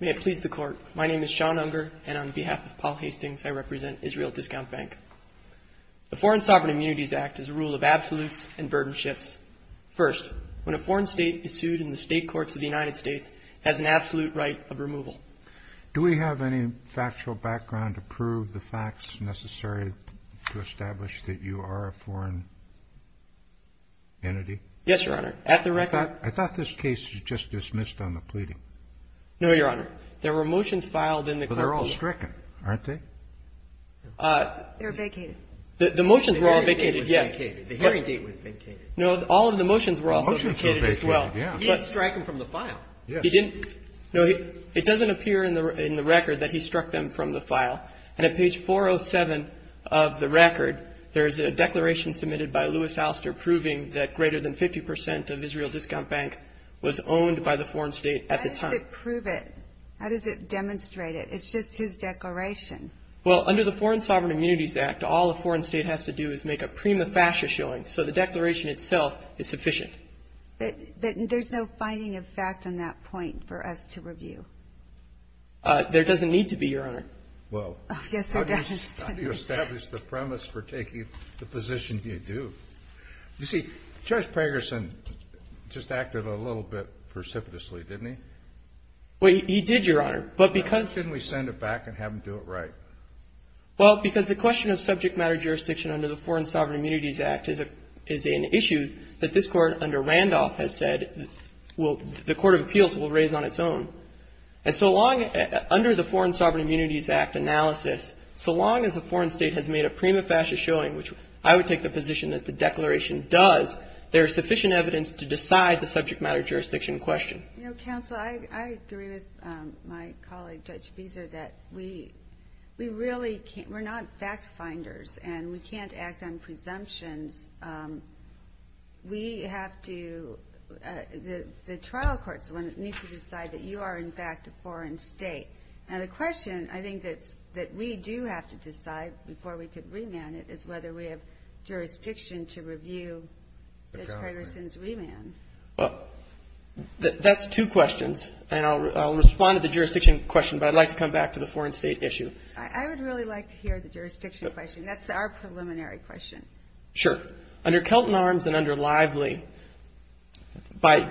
May it please the Court, my name is Sean Unger and on behalf of Paul Hastings I represent Israel Discount Bank. The Foreign Sovereign Immunities Act is a rule of absolutes and burden shifts. First, when a foreign state is sued in the state courts of the United States, it has an absolute right of removal. Do we have any factual background to prove the facts necessary to establish that you are a foreign entity? Yes, Your Honor. At page 407 of the record, there is a declaration submitted by Louis Alster proving that greater than 50% of Israel Discount Bank was owned by the foreign state at the time. How does it prove it? How does it demonstrate it? It's just his declaration. Well, under the Foreign Sovereign Immunities Act, all a foreign state has to do is make a prima facie showing, so the declaration itself is sufficient. But there's no finding of fact on that point for us to review? There doesn't need to be, Your Honor. Well, how do you establish the premise for taking the position you do? You see, Judge Pegerson just acted a little bit precipitously, didn't he? Well, he did, Your Honor. But because — Why shouldn't we send it back and have him do it right? Well, because the question of subject matter jurisdiction under the Foreign Sovereign Immunities Act is an issue that this Court under Randolph has said will — the court of appeals will raise on its own. And so long — under the Foreign Sovereign Immunities Act, under the prima facie showing, which I would take the position that the declaration does, there is sufficient evidence to decide the subject matter jurisdiction question. You know, Counsel, I agree with my colleague, Judge Beezer, that we really can't — we're not fact-finders, and we can't act on presumptions. We have to — the trial court is the one that needs to decide that you are, in fact, a foreign state. Now, the question, I think, that we do have to decide before we can remand it is whether we have jurisdiction to review Judge Pegerson's remand. Well, that's two questions. And I'll respond to the jurisdiction question, but I'd like to come back to the foreign state issue. I would really like to hear the jurisdiction question. That's our preliminary question. Sure. Under Kelton Arms and under Lively, by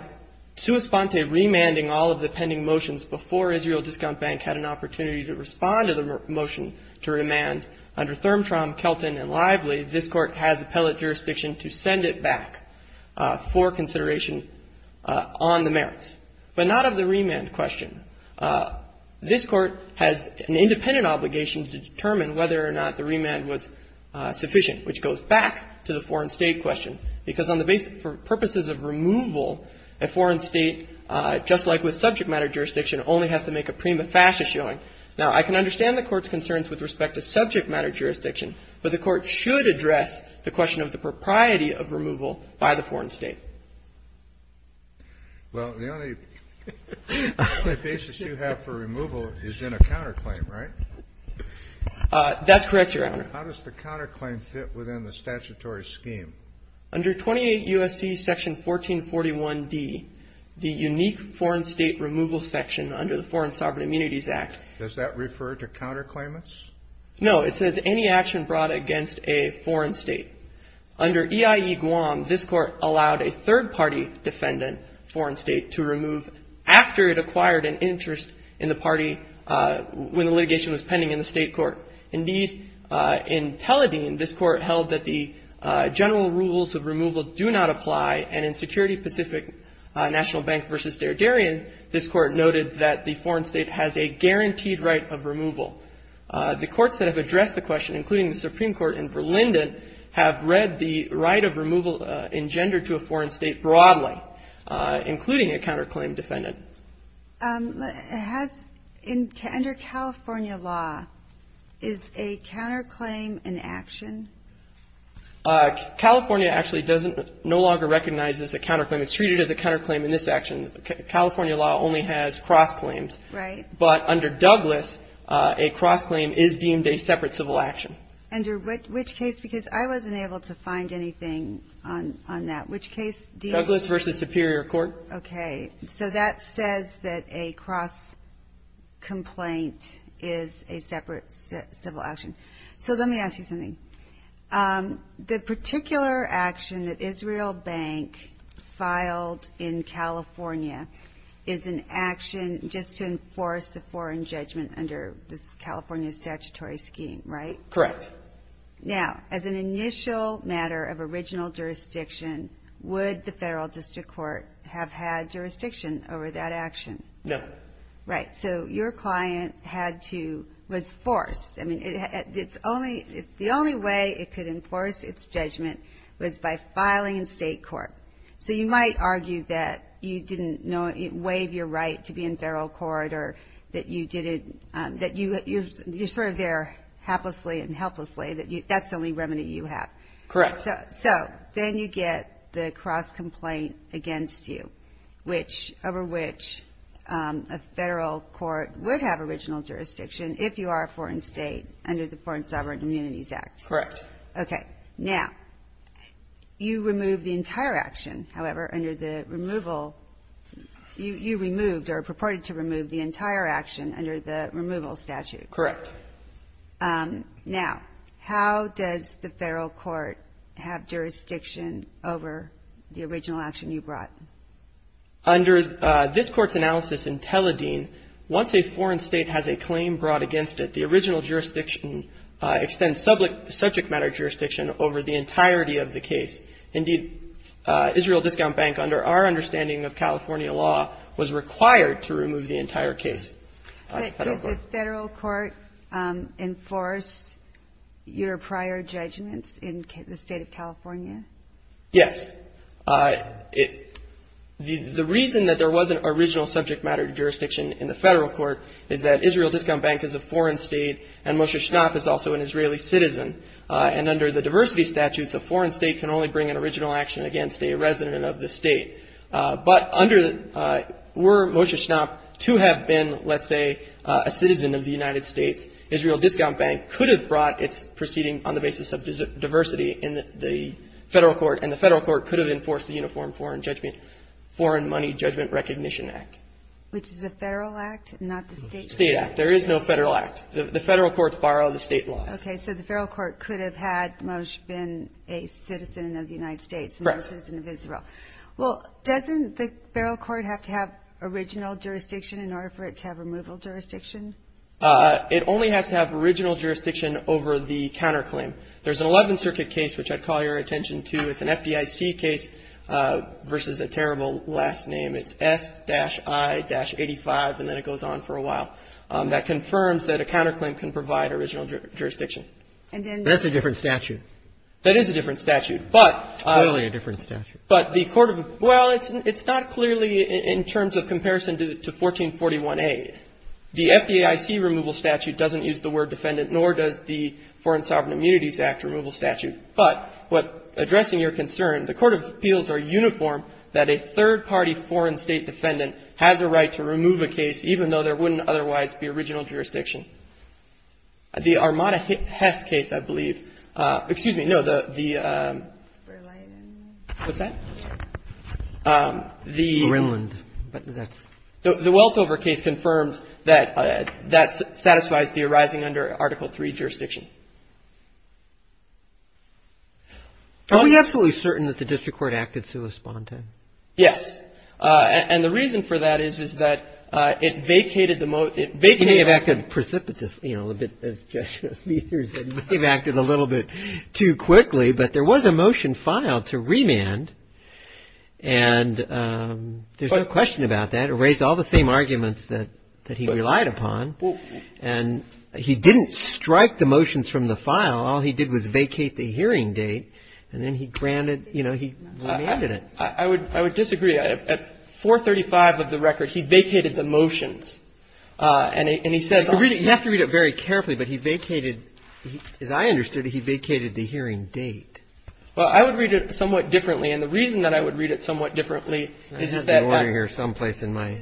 sua sponte remanding all of the pending motions before Israel Discount Bank had an opportunity to respond to the motion to remand, under Thermtrom, Kelton, and Lively, this Court has appellate jurisdiction to send it back for consideration on the merits, but not of the remand question. This Court has an independent obligation to determine whether or not the remand was sufficient, which goes back to the foreign state question, because on the basis — for purposes of removal a foreign state, just like with subject matter jurisdiction, only has to make a prima facie showing. Now, I can understand the Court's concerns with respect to subject matter jurisdiction, but the Court should address the question of the propriety of removal by the foreign state. Well, the only basis you have for removal is in a counterclaim, right? That's correct, Your Honor. How does the counterclaim fit within the statutory scheme? Under 28 U.S.C. Section 1441D, the unique foreign state removal section under the Foreign Sovereign Immunities Act — Does that refer to counterclaimants? No. It says any action brought against a foreign state. Under EIE-Guam, this Court allowed a third-party defendant, foreign state, to remove after it acquired an interest in the party when the litigation was pending in the state court. Indeed, in Tel-Adin, this Court held that the general rules of removal do not apply, and in Security Pacific National Bank v. Der Derian, this Court noted that the foreign state has a guaranteed right of removal. The courts that have addressed the question, including the Supreme Court and Verlinden, have read the right of removal engendered to a foreign state broadly, including a counterclaim defendant. Has — under California law, is a counterclaim an action? California actually doesn't — no longer recognizes a counterclaim. It's treated as a counterclaim in this action. California law only has cross-claims. Right. But under Douglas, a cross-claim is deemed a separate civil action. Under which case? Because I wasn't able to find anything on that. Which case — Douglas v. Superior Court. Okay. So that says that a cross-complaint is a separate civil action. So let me ask you something. The particular action that Israel Bank filed in California is an action just to enforce a foreign judgment under this California statutory scheme, right? Correct. Now, as an initial matter of original jurisdiction, would the Federal District Court have had jurisdiction over that action? No. Right. So your client had to — was forced — I mean, it's only — the only way it could enforce its judgment was by filing in state court. So you might argue that you didn't know — waive your right to be in federal court or that you didn't — that you — you're sort of there haplessly and helplessly, that that's the only remedy you have. Correct. So then you get the cross-complaint against you, which — over which a Federal court would have original jurisdiction if you are a foreign state under the Foreign Sovereign Immunities Act. Correct. Okay. Now, you remove the entire action, however, under the removal — you removed or purported to remove the entire action under the removal statute. Correct. Now, how does the Federal court have jurisdiction over the original action you brought? Under this Court's analysis in Tel-Adin, once a foreign state has a claim brought against it, the original jurisdiction extends subject matter jurisdiction over the entirety of the case. Indeed, Israel Discount Bank, under our understanding of California law, was required to remove the entire case. But did the Federal court enforce your prior judgments in the state of California? Yes. It — the reason that there wasn't original subject matter jurisdiction in the Federal court is that Israel Discount Bank is a foreign state, and Moshe Schnapp is also an Israeli citizen. And under the diversity statutes, a foreign state can only bring an original action against a resident of the state. But under — were Moshe Schnapp to have been, let's say, a citizen of the United States, Israel Discount Bank could have brought its proceeding on the basis of diversity in the Federal court, and the Federal court could have enforced the Uniform Foreign Judgment — Foreign Money Judgment Recognition Act. Which is a Federal act, not the state — State act. There is no Federal act. The Federal courts borrow the state laws. Okay. So the Federal court could have had Moshe been a citizen of the United States — Correct. — and Moshe Schnapp a citizen of Israel. Well, doesn't the Federal court have to have original jurisdiction in order for it to have removal jurisdiction? It only has to have original jurisdiction over the counterclaim. There's an Eleventh Circuit case, which I'd call your attention to. It's an FDIC case versus a terrible last name. It's S-I-85, and then it goes on for a while. That confirms that a counterclaim can provide original jurisdiction. And then — That's a different statute. That is a different statute. But — Well, it's not clearly in terms of comparison to 1441A. The FDIC removal statute doesn't use the word defendant, nor does the Foreign Sovereign Immunities Act removal statute. But what — addressing your concern, the court of appeals are uniform that a third-party foreign state defendant has a right to remove a case, even though there wouldn't otherwise be original jurisdiction. The Armada-Hess case, I believe — excuse me, no, the — Berlin. What's that? The — Berlin, but that's — The Weltover case confirms that that satisfies the arising under Article III jurisdiction. Are we absolutely certain that the district court acted sui sponte? Yes. And the reason for that is, is that it vacated the — it vacated — I'm a little bit precipitous, you know, a bit as Jeshua Meathers, and we've acted a little bit too quickly, but there was a motion filed to remand. And there's no question about that. It raised all the same arguments that he relied upon. And he didn't strike the motions from the file. All he did was vacate the hearing date. And then he granted — you know, he remanded it. I would — I would disagree. At 435 of the record, he vacated the motions. And he says — You have to read it very carefully, but he vacated — as I understood it, he vacated the hearing date. Well, I would read it somewhat differently. And the reason that I would read it somewhat differently is that — I have the order here someplace in my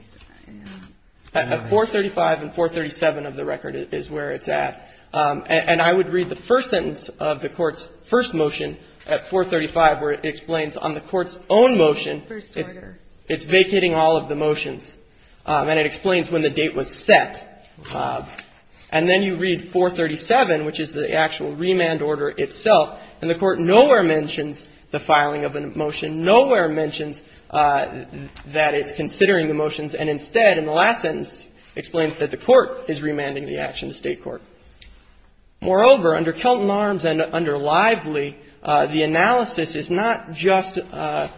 — At 435 and 437 of the record is where it's at. And I would read the first sentence of the Court's first motion at 435, where it explains on the Court's own motion — First order. It's vacating all of the motions. And it explains when the date was set. And then you read 437, which is the actual remand order itself, and the Court nowhere mentions the filing of a motion, nowhere mentions that it's considering the motions, and instead, in the last sentence, explains that the Court is remanding the action to State court. Moreover, under Kelton Arms and under Lively, the analysis is not just the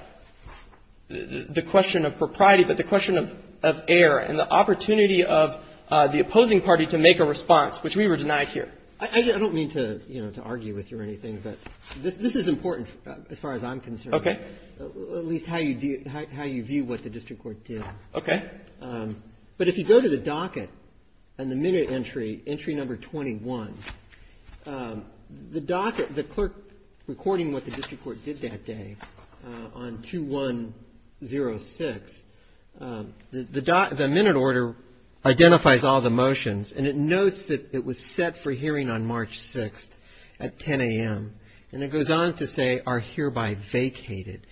question of propriety, but the question of air and the opportunity of the opposing party to make a response, which we were denied here. I don't mean to, you know, to argue with you or anything, but this is important as far as I'm concerned. Okay. At least how you view what the district court did. Okay. But if you go to the docket and the minute entry, entry number 21, the docket, the clerk recording what the district court did that day on 2106, the minute order identifies all the motions, and it notes that it was set for hearing on March 6th at 10 a.m., and it goes on to say, are hereby vacated,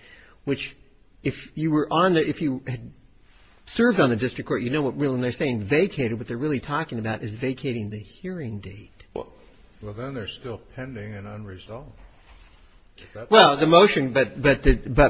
which if you were on the — served on the district court, you know what they're saying, vacated. What they're really talking about is vacating the hearing date. Well, then they're still pending and unresolved. Well, the motion, but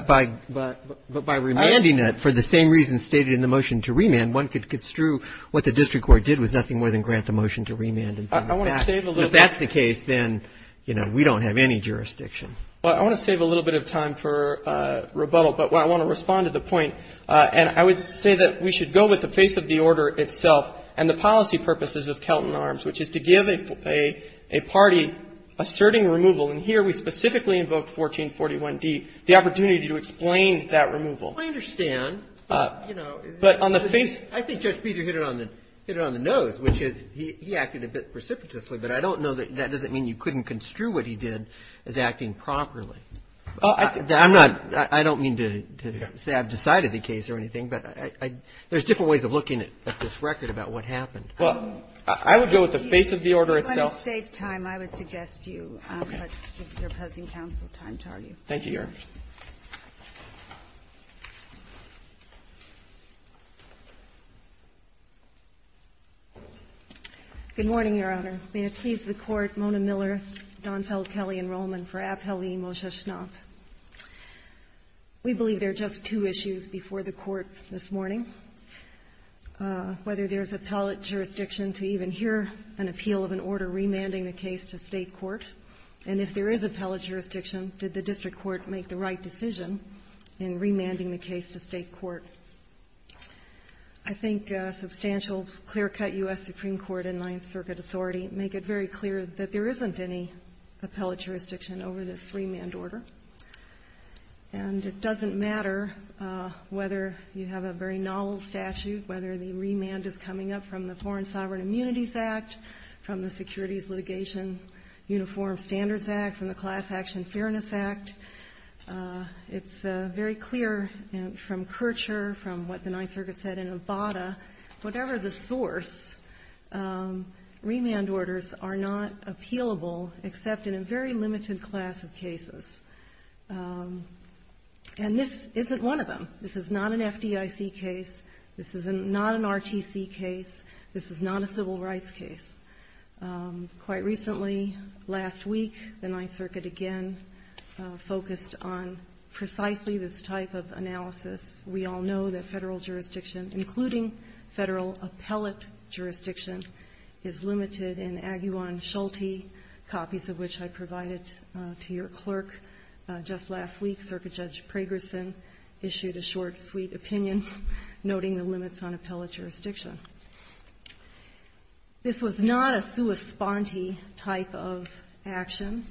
by remanding it for the same reasons stated in the motion to remand, one could construe what the district court did was nothing more than grant the motion to remand and send it back. I want to save a little bit. If that's the case, then, you know, we don't have any jurisdiction. Well, I want to save a little bit of time for rebuttal, but I want to respond to the point, and I would say that we should go with the face of the order itself and the policy purposes of Kelton Arms, which is to give a party asserting removal and here we specifically invoked 1441d, the opportunity to explain that removal. I understand, but, you know — But on the face — I think Judge Beezer hit it on the nose, which is he acted a bit precipitously, but I don't know that that doesn't mean you couldn't construe what he did as acting properly. I'm not — I don't mean to say I've decided the case or anything, but I — there's different ways of looking at this record about what happened. Well, I would go with the face of the order itself. If you want to save time, I would suggest you put your opposing counsel time to argue. Thank you, Your Honor. Good morning, Your Honor. May it please the Court, Mona Miller, Donfeld, Kelley, and Rollman for appellee Moshe Schnapp. We believe there are just two issues before the Court this morning. Whether there's appellate jurisdiction to even hear an appeal of an order remanding the case to State court, and if there is appellate jurisdiction, did the district court make the right decision in remanding the case to State court? I think substantial clear-cut U.S. Supreme Court and Ninth Circuit authority make it very clear that there isn't any appellate jurisdiction over this remand order. And it doesn't matter whether you have a very novel statute, whether the remand is coming up from the Foreign Sovereign Immunities Act, from the Securities Litigation Uniform Standards Act, from the Class Action Fairness Act. It's very clear from Kircher, from what the Ninth Circuit said in Abbata, whatever the source, remand orders are not appealable except in a very limited class of cases. And this isn't one of them. This is not an FDIC case. This is not an RTC case. This is not a civil rights case. Quite recently, last week, the Ninth Circuit again focused on precisely this type of analysis. We all know that Federal jurisdiction, including Federal appellate jurisdiction, is limited. In Aguillan-Schulte, copies of which I provided to your clerk just last week, Circuit Judge Pragerson issued a short, sweet opinion noting the limits on appellate It's not a sua sponte type of action.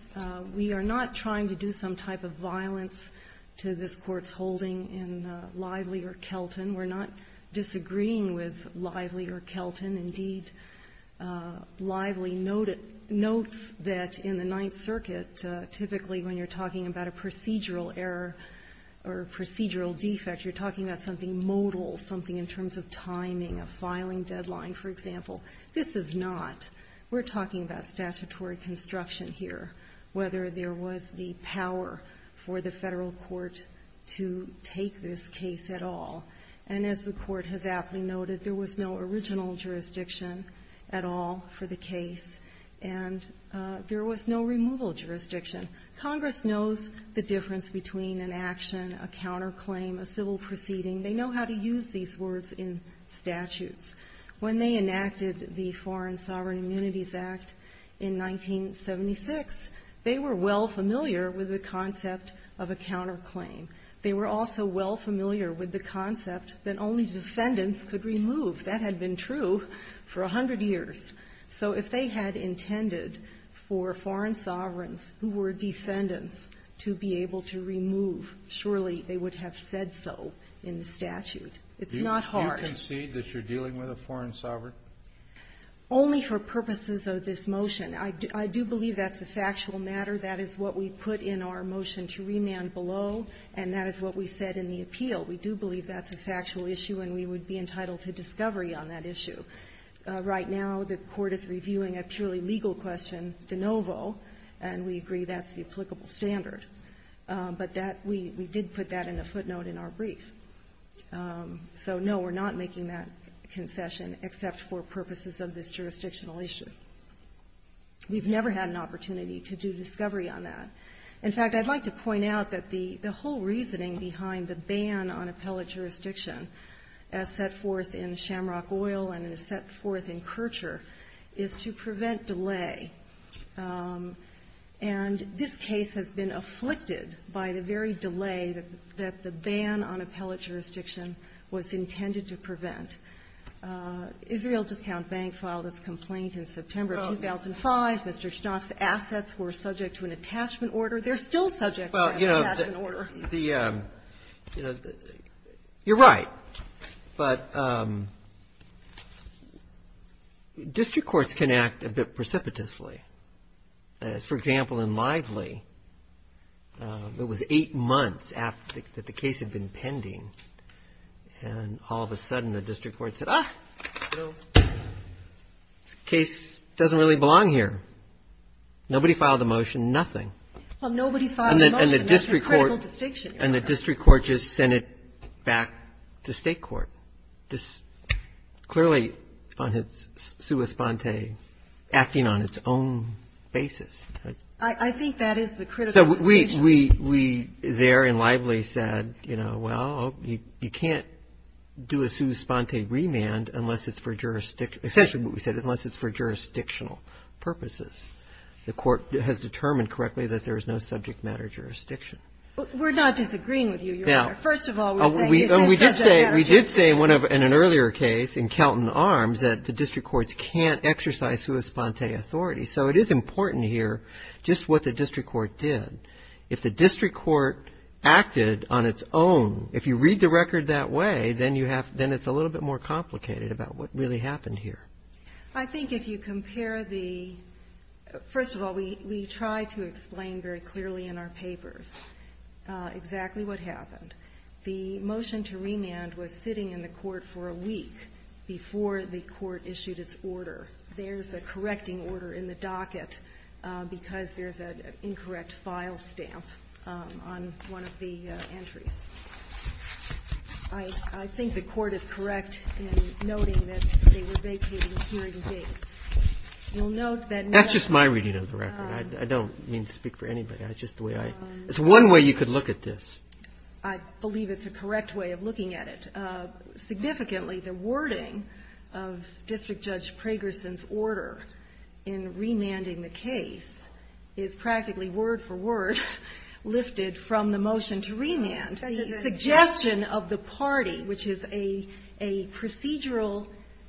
We are not trying to do some type of violence to this Court's holding in Lively or Kelton. We're not disagreeing with Lively or Kelton. Indeed, Lively noted notes that in the Ninth Circuit, typically when you're talking about a procedural error or procedural defect, you're talking about something modal, something in terms of timing, a filing deadline, for example. This is not. We're talking about statutory construction here, whether there was the power for the Federal court to take this case at all. And as the Court has aptly noted, there was no original jurisdiction at all for the case, and there was no removal jurisdiction. Congress knows the difference between an action, a counterclaim, a civil proceeding. They know how to use these words in statutes. When they enacted the Foreign Sovereign Immunities Act in 1976, they were well familiar with the concept of a counterclaim. They were also well familiar with the concept that only defendants could remove. That had been true for a hundred years. So if they had intended for foreign sovereigns who were defendants to be able to remove, surely they would have said so in the statute. It's not hard. Kennedy, do you concede that you're dealing with a foreign sovereign? Only for purposes of this motion. I do believe that's a factual matter. That is what we put in our motion to remand below, and that is what we said in the appeal. We do believe that's a factual issue, and we would be entitled to discovery on that issue. Right now, the Court is reviewing a purely legal question, de novo, and we agree that's the applicable standard. But that we did put that in the footnote in our brief. So, no, we're not making that concession except for purposes of this jurisdictional issue. We've never had an opportunity to do discovery on that. In fact, I'd like to point out that the whole reasoning behind the ban on appellate jurisdiction as set forth in Shamrock Oil and as set forth in Kircher is to prevent delay. And this case has been afflicted by the very delay that the ban on appellate jurisdiction was intended to prevent. Israel Discount Bank filed its complaint in September of 2005. Mr. Schnapp's assets were subject to an attachment order. They're still subject to an attachment order. Well, you know, the — you're right, but district courts can act a bit precipitously. For example, in Lively, it was eight months after the case had been pending, and all of a sudden, the district court said, ah, this case doesn't really belong here. Nobody filed a motion, nothing. Well, nobody filed a motion. That's a critical distinction. And the district court just sent it back to State court, just clearly on its sua sponte, acting on its own. I think that is the critical distinction. So we there in Lively said, you know, well, you can't do a sua sponte remand unless it's for jurisdiction — essentially what we said, unless it's for jurisdictional purposes. The court has determined correctly that there is no subject matter jurisdiction. We're not disagreeing with you, Your Honor. First of all, we're saying it's a subject matter jurisdiction. We did say in an earlier case in Kelton Arms that the district courts can't exercise sua sponte authority. So it is important here just what the district court did. If the district court acted on its own, if you read the record that way, then you have — then it's a little bit more complicated about what really happened here. I think if you compare the — first of all, we try to explain very clearly in our papers exactly what happened. The motion to remand was sitting in the court for a week before the court issued its order. There's a correcting order in the docket because there's an incorrect file stamp on one of the entries. I think the court is correct in noting that they were vacating hearing gates. You'll note that — That's just my reading of the record. I don't mean to speak for anybody. It's just the way I — it's one way you could look at this. I believe it's a correct way of looking at it. Significantly, the wording of District Judge Pragerson's order in remanding the case is practically word-for-word lifted from the motion to remand. The suggestion of the party, which is a procedural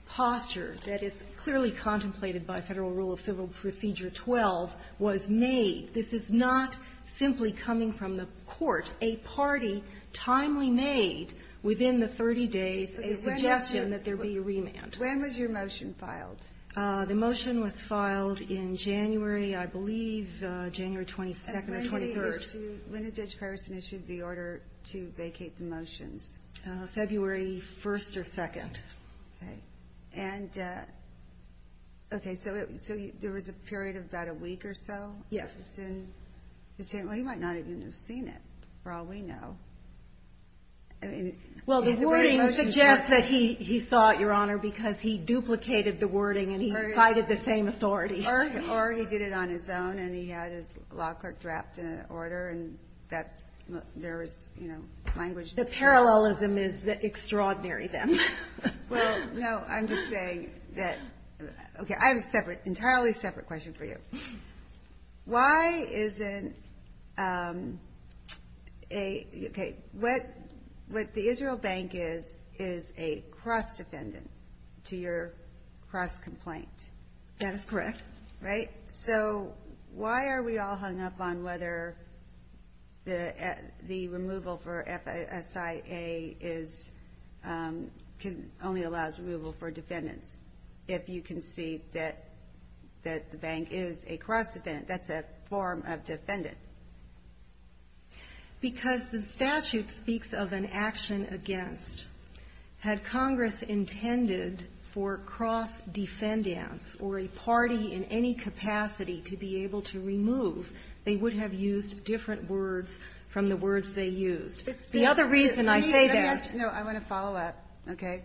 posture that is clearly contemplated by Federal Rule of Civil Procedure 12, was made. This is not simply coming from the court. A party timely made within the 30 days a suggestion that there be a remand. When was your motion filed? The motion was filed in January, I believe, January 22nd or 23rd. When did Judge Pragerson issue the order to vacate the motions? February 1st or 2nd. And — okay, so there was a period of about a week or so? Yes. Well, he might not even have seen it, for all we know. I mean — Well, the wording suggests that he saw it, Your Honor, because he duplicated the wording and he cited the same authority. Or he did it on his own and he had his law clerk draft an order and that — there was, you know, language — The parallelism is extraordinary then. Well, no, I'm just saying that — okay, I have a separate — entirely separate question for you. Why isn't a — okay, what the Israel Bank is, is a cross-defendant to your cross-complaint. That is correct. Right? So why are we all hung up on whether the removal for F-S-I-A is — only allows removal for defendants if you can see that the bank is a cross-defendant, that's a form of defendant? Because the statute speaks of an action against. Had Congress intended for cross-defendants or a party in any capacity to be able to remove, they would have used different words from the words they used. The other reason I say that — No, I want to follow up. Okay?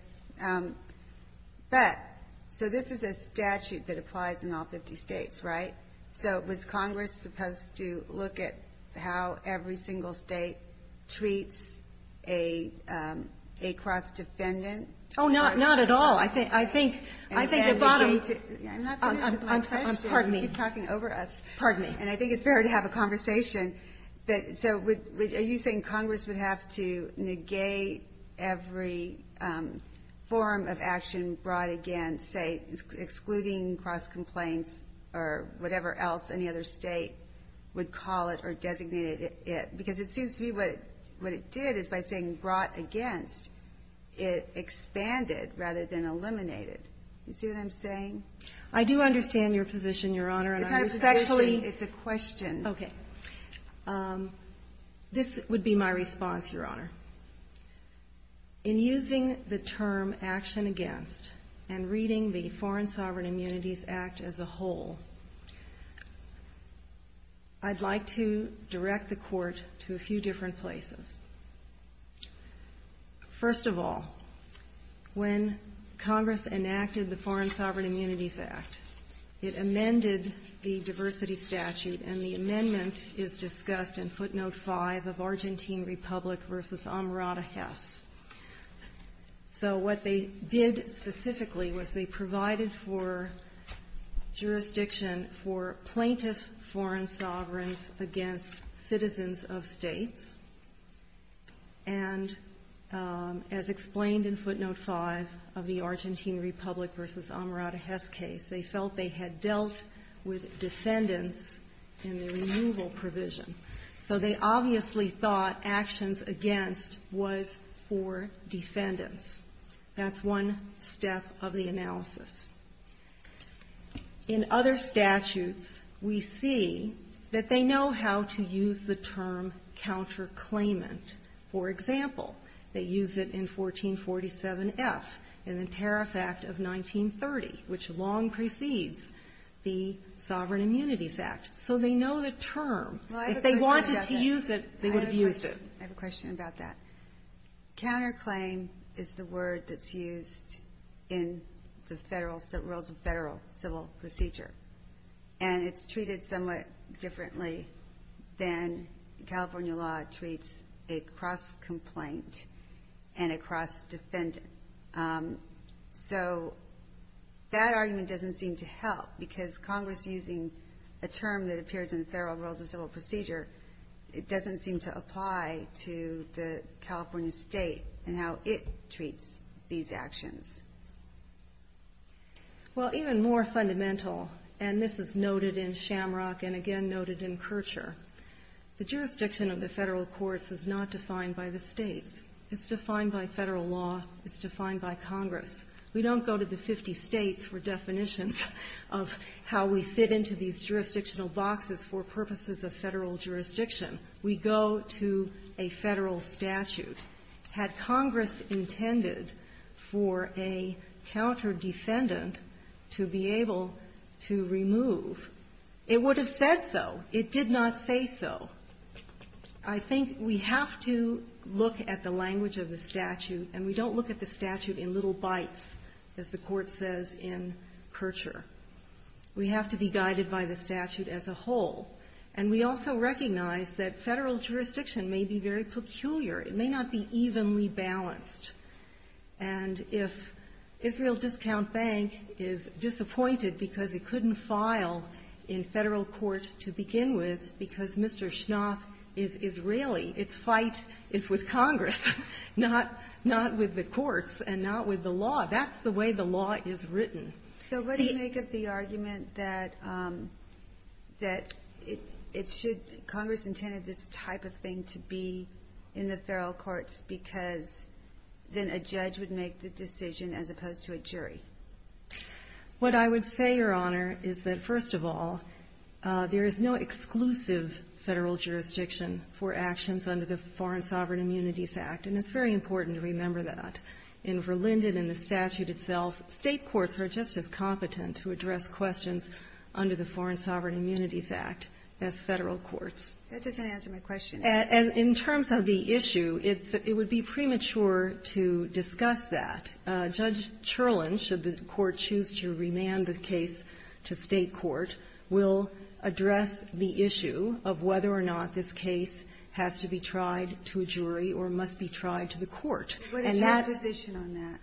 But — so this is a statute that applies in all 50 States, right? So was Congress supposed to look at how every single State treats a cross-defendant? Oh, not at all. I think — I think the bottom — I'm not finished with my question. Pardon me. You keep talking over us. Pardon me. And I think it's fair to have a conversation. But so are you saying Congress would have to negate every form of action brought against, say, excluding cross-complaints or whatever else any other State would call it or designated it? Because it seems to me what it did is by saying brought against, it expanded rather than eliminated. You see what I'm saying? I do understand your position, Your Honor. It's not a position. It's a question. Okay. This would be my response, Your Honor. In using the term action against and reading the Foreign Sovereign Immunities Act as a whole, I'd like to direct the Court to a few different places. First of all, when Congress enacted the Foreign Sovereign Immunities Act, it amended the diversity statute, and the amendment is discussed in footnote 5 of Argentine Republic v. Amarada-Hess. So what they did specifically was they provided for jurisdiction for plaintiff foreign sovereigns against citizens of states. And as explained in footnote 5 of the Argentine Republic v. Amarada-Hess case, they felt they had dealt with defendants in the removal provision. So they obviously thought actions against was for defendants. That's one step of the analysis. In other statutes, we see that they know how to use the term counterclaimant. For example, they use it in 1447F in the Tariff Act of 1930, which long precedes the Sovereign Immunities Act. So they know the term. If they wanted to use it, they would have used it. I have a question about that. Counterclaim is the word that's used in the federal civil procedure, and it's treated somewhat differently than California law treats a cross-complaint and a cross-defendant. So that argument doesn't seem to help, because Congress using a term that appears in the federal rules of civil procedure, it doesn't seem to apply to the California state and how it treats these actions. Well, even more fundamental, and this is noted in Shamrock and again noted in Kircher, the jurisdiction of the federal courts is not defined by the states. It's defined by federal law. It's defined by Congress. We don't go to the 50 states for definitions of how we fit into these jurisdictional boxes for purposes of federal jurisdiction. We go to a federal statute. Had Congress intended for a counter-defendant to be able to remove, it would have said so. It did not say so. I think we have to look at the language of the statute, and we don't look at the statute in little bites, as the Court says in Kircher. We have to be guided by the statute as a whole. And we also recognize that federal jurisdiction may be very peculiar. It may not be evenly balanced. And if Israel Discount Bank is disappointed because it couldn't file in federal courts to begin with because Mr. Schnapp is Israeli, its fight is with Congress, not with the courts and not with the law. That's the way the law is written. So what do you make of the argument that it should be, Congress intended this type of thing to be in the federal courts because then a judge would make the decision as opposed to a jury? What I would say, Your Honor, is that, first of all, there is no exclusive federal jurisdiction for actions under the Foreign Sovereign Immunities Act. And it's very important to remember that. In Verlinden, in the statute itself, state courts are just as competent to address questions under the Foreign Sovereign Immunities Act as federal courts. That doesn't answer my question. And in terms of the issue, it would be premature to discuss that. Judge Cherland, should the Court choose to remand the case to state court, will address the issue of whether or not this case has to be tried to a jury or must be tried to the court. What is your position on that?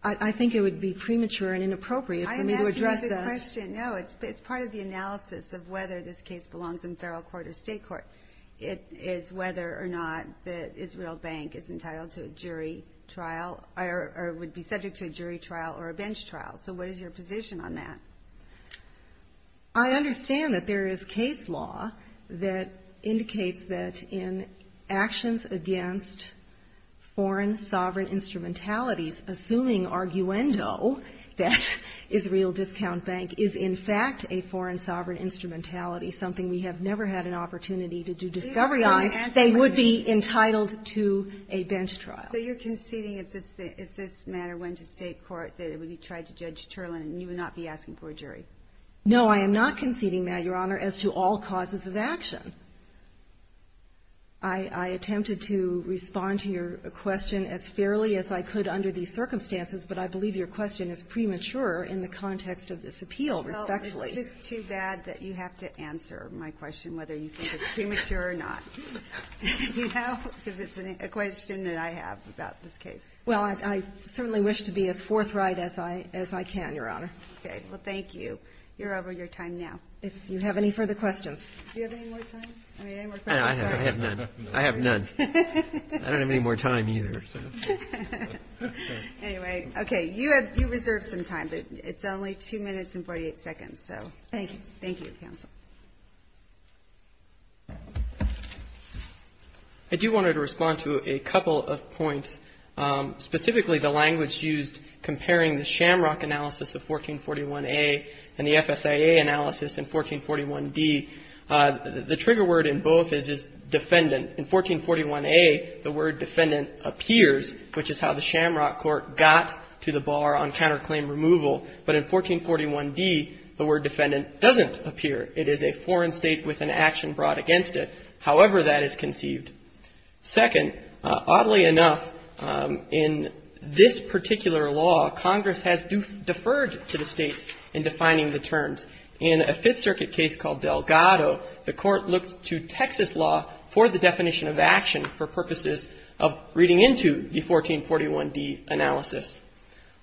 I think it would be premature and inappropriate for me to address that. I'm asking a good question. No, it's part of the analysis of whether this case belongs in federal court or state court. It is whether or not the Israel Bank is entitled to a jury trial or would be subject to a jury trial or a bench trial. So what is your position on that? I understand that there is case law that indicates that in actions against foreign sovereign instrumentalities, assuming arguendo, that Israel Discount Bank is in fact a foreign sovereign instrumentality, something we have never had an opportunity to do discovery on, they would be entitled to a bench trial. So you're conceding if this matter went to state court that it would be tried to Judge Cherland and you would not be asking for a jury? No, I am not conceding that, Your Honor, as to all causes of action. I attempted to respond to your question as fairly as I could under these circumstances, and in the end I was going to go back to the court and say, well, it, because I think that the court would be able to hold its appeal respectfully. Well, it's just too bad that you have to answer my question whether you think it's premature or not, you know, because it's a question that I have about this case. Well, I certainly wish to be as forthright as I can, Your Honor. Well, thank you. You're over your time now. If you have any further questions. Do you have any more time? I mean, any more questions? I have none. I have none. I don't have any more time either. Anyway. Okay. You have, you reserve some time, but it's only 2 minutes and 48 seconds, so. Thank you. Thank you, counsel. I do want to respond to a couple of points, specifically the language used comparing the shamrock analysis of 1441A and the FSIA analysis in 1441D. The trigger word in both is defendant. In 1441A, the word defendant appears, which is how the shamrock court got to the bar on counterclaim removal. But in 1441D, the word defendant doesn't appear. It is a foreign state with an action brought against it, however that is conceived. Second, oddly enough, in this particular law, Congress has deferred to the states in defining the terms. In a Fifth Circuit case called Delgado, the court looked to Texas law for the definition of action for purposes of reading into the 1441D analysis.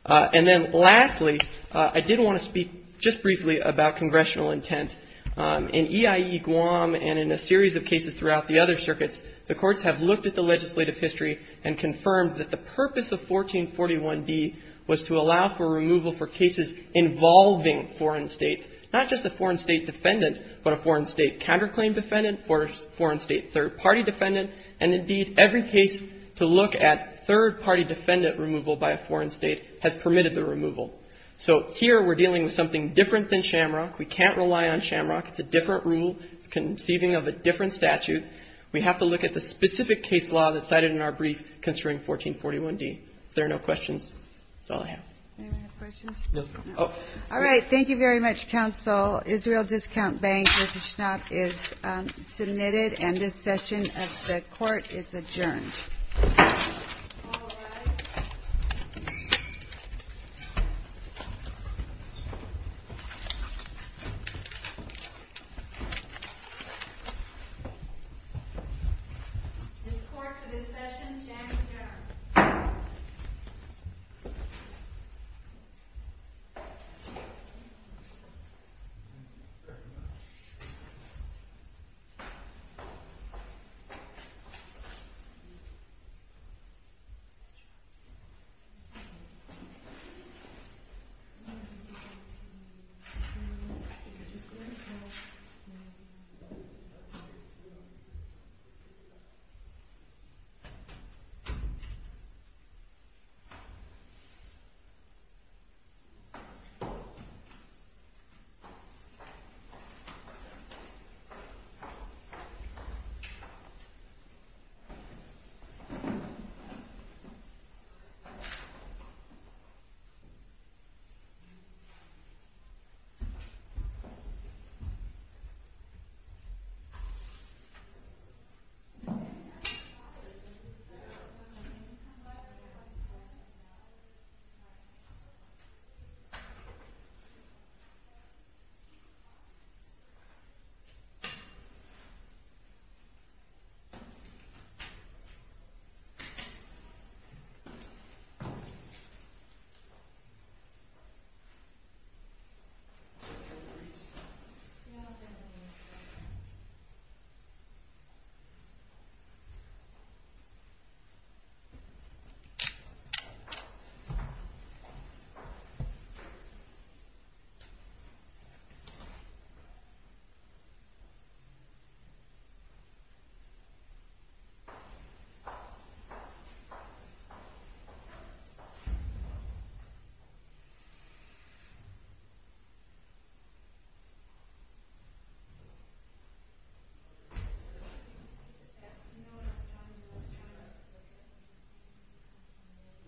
And then lastly, I did want to speak just briefly about congressional intent. In EIE-Guam and in a series of cases throughout the other circuits, the courts have looked at the legislative history and confirmed that the purpose of 1441D was to allow for removal for cases involving foreign states, not just a foreign state defendant, but a foreign state counterclaim defendant, foreign state third-party defendant, and indeed every case to look at third-party defendant removal by a foreign state has permitted the removal. So here we're dealing with something different than shamrock. We can't rely on shamrock. It's a different rule. It's conceiving of a different statute. We have to look at the specific case law that's cited in our brief concerning 1441D. If there are no questions, that's all I have. Any more questions? No. All right. Thank you very much, counsel. Israel Discount Bank, Mr. Schnapp, is submitted and this session of the court is adjourned. All rise. This court for this session stands adjourned.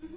Thank you. Thank you. Thank you.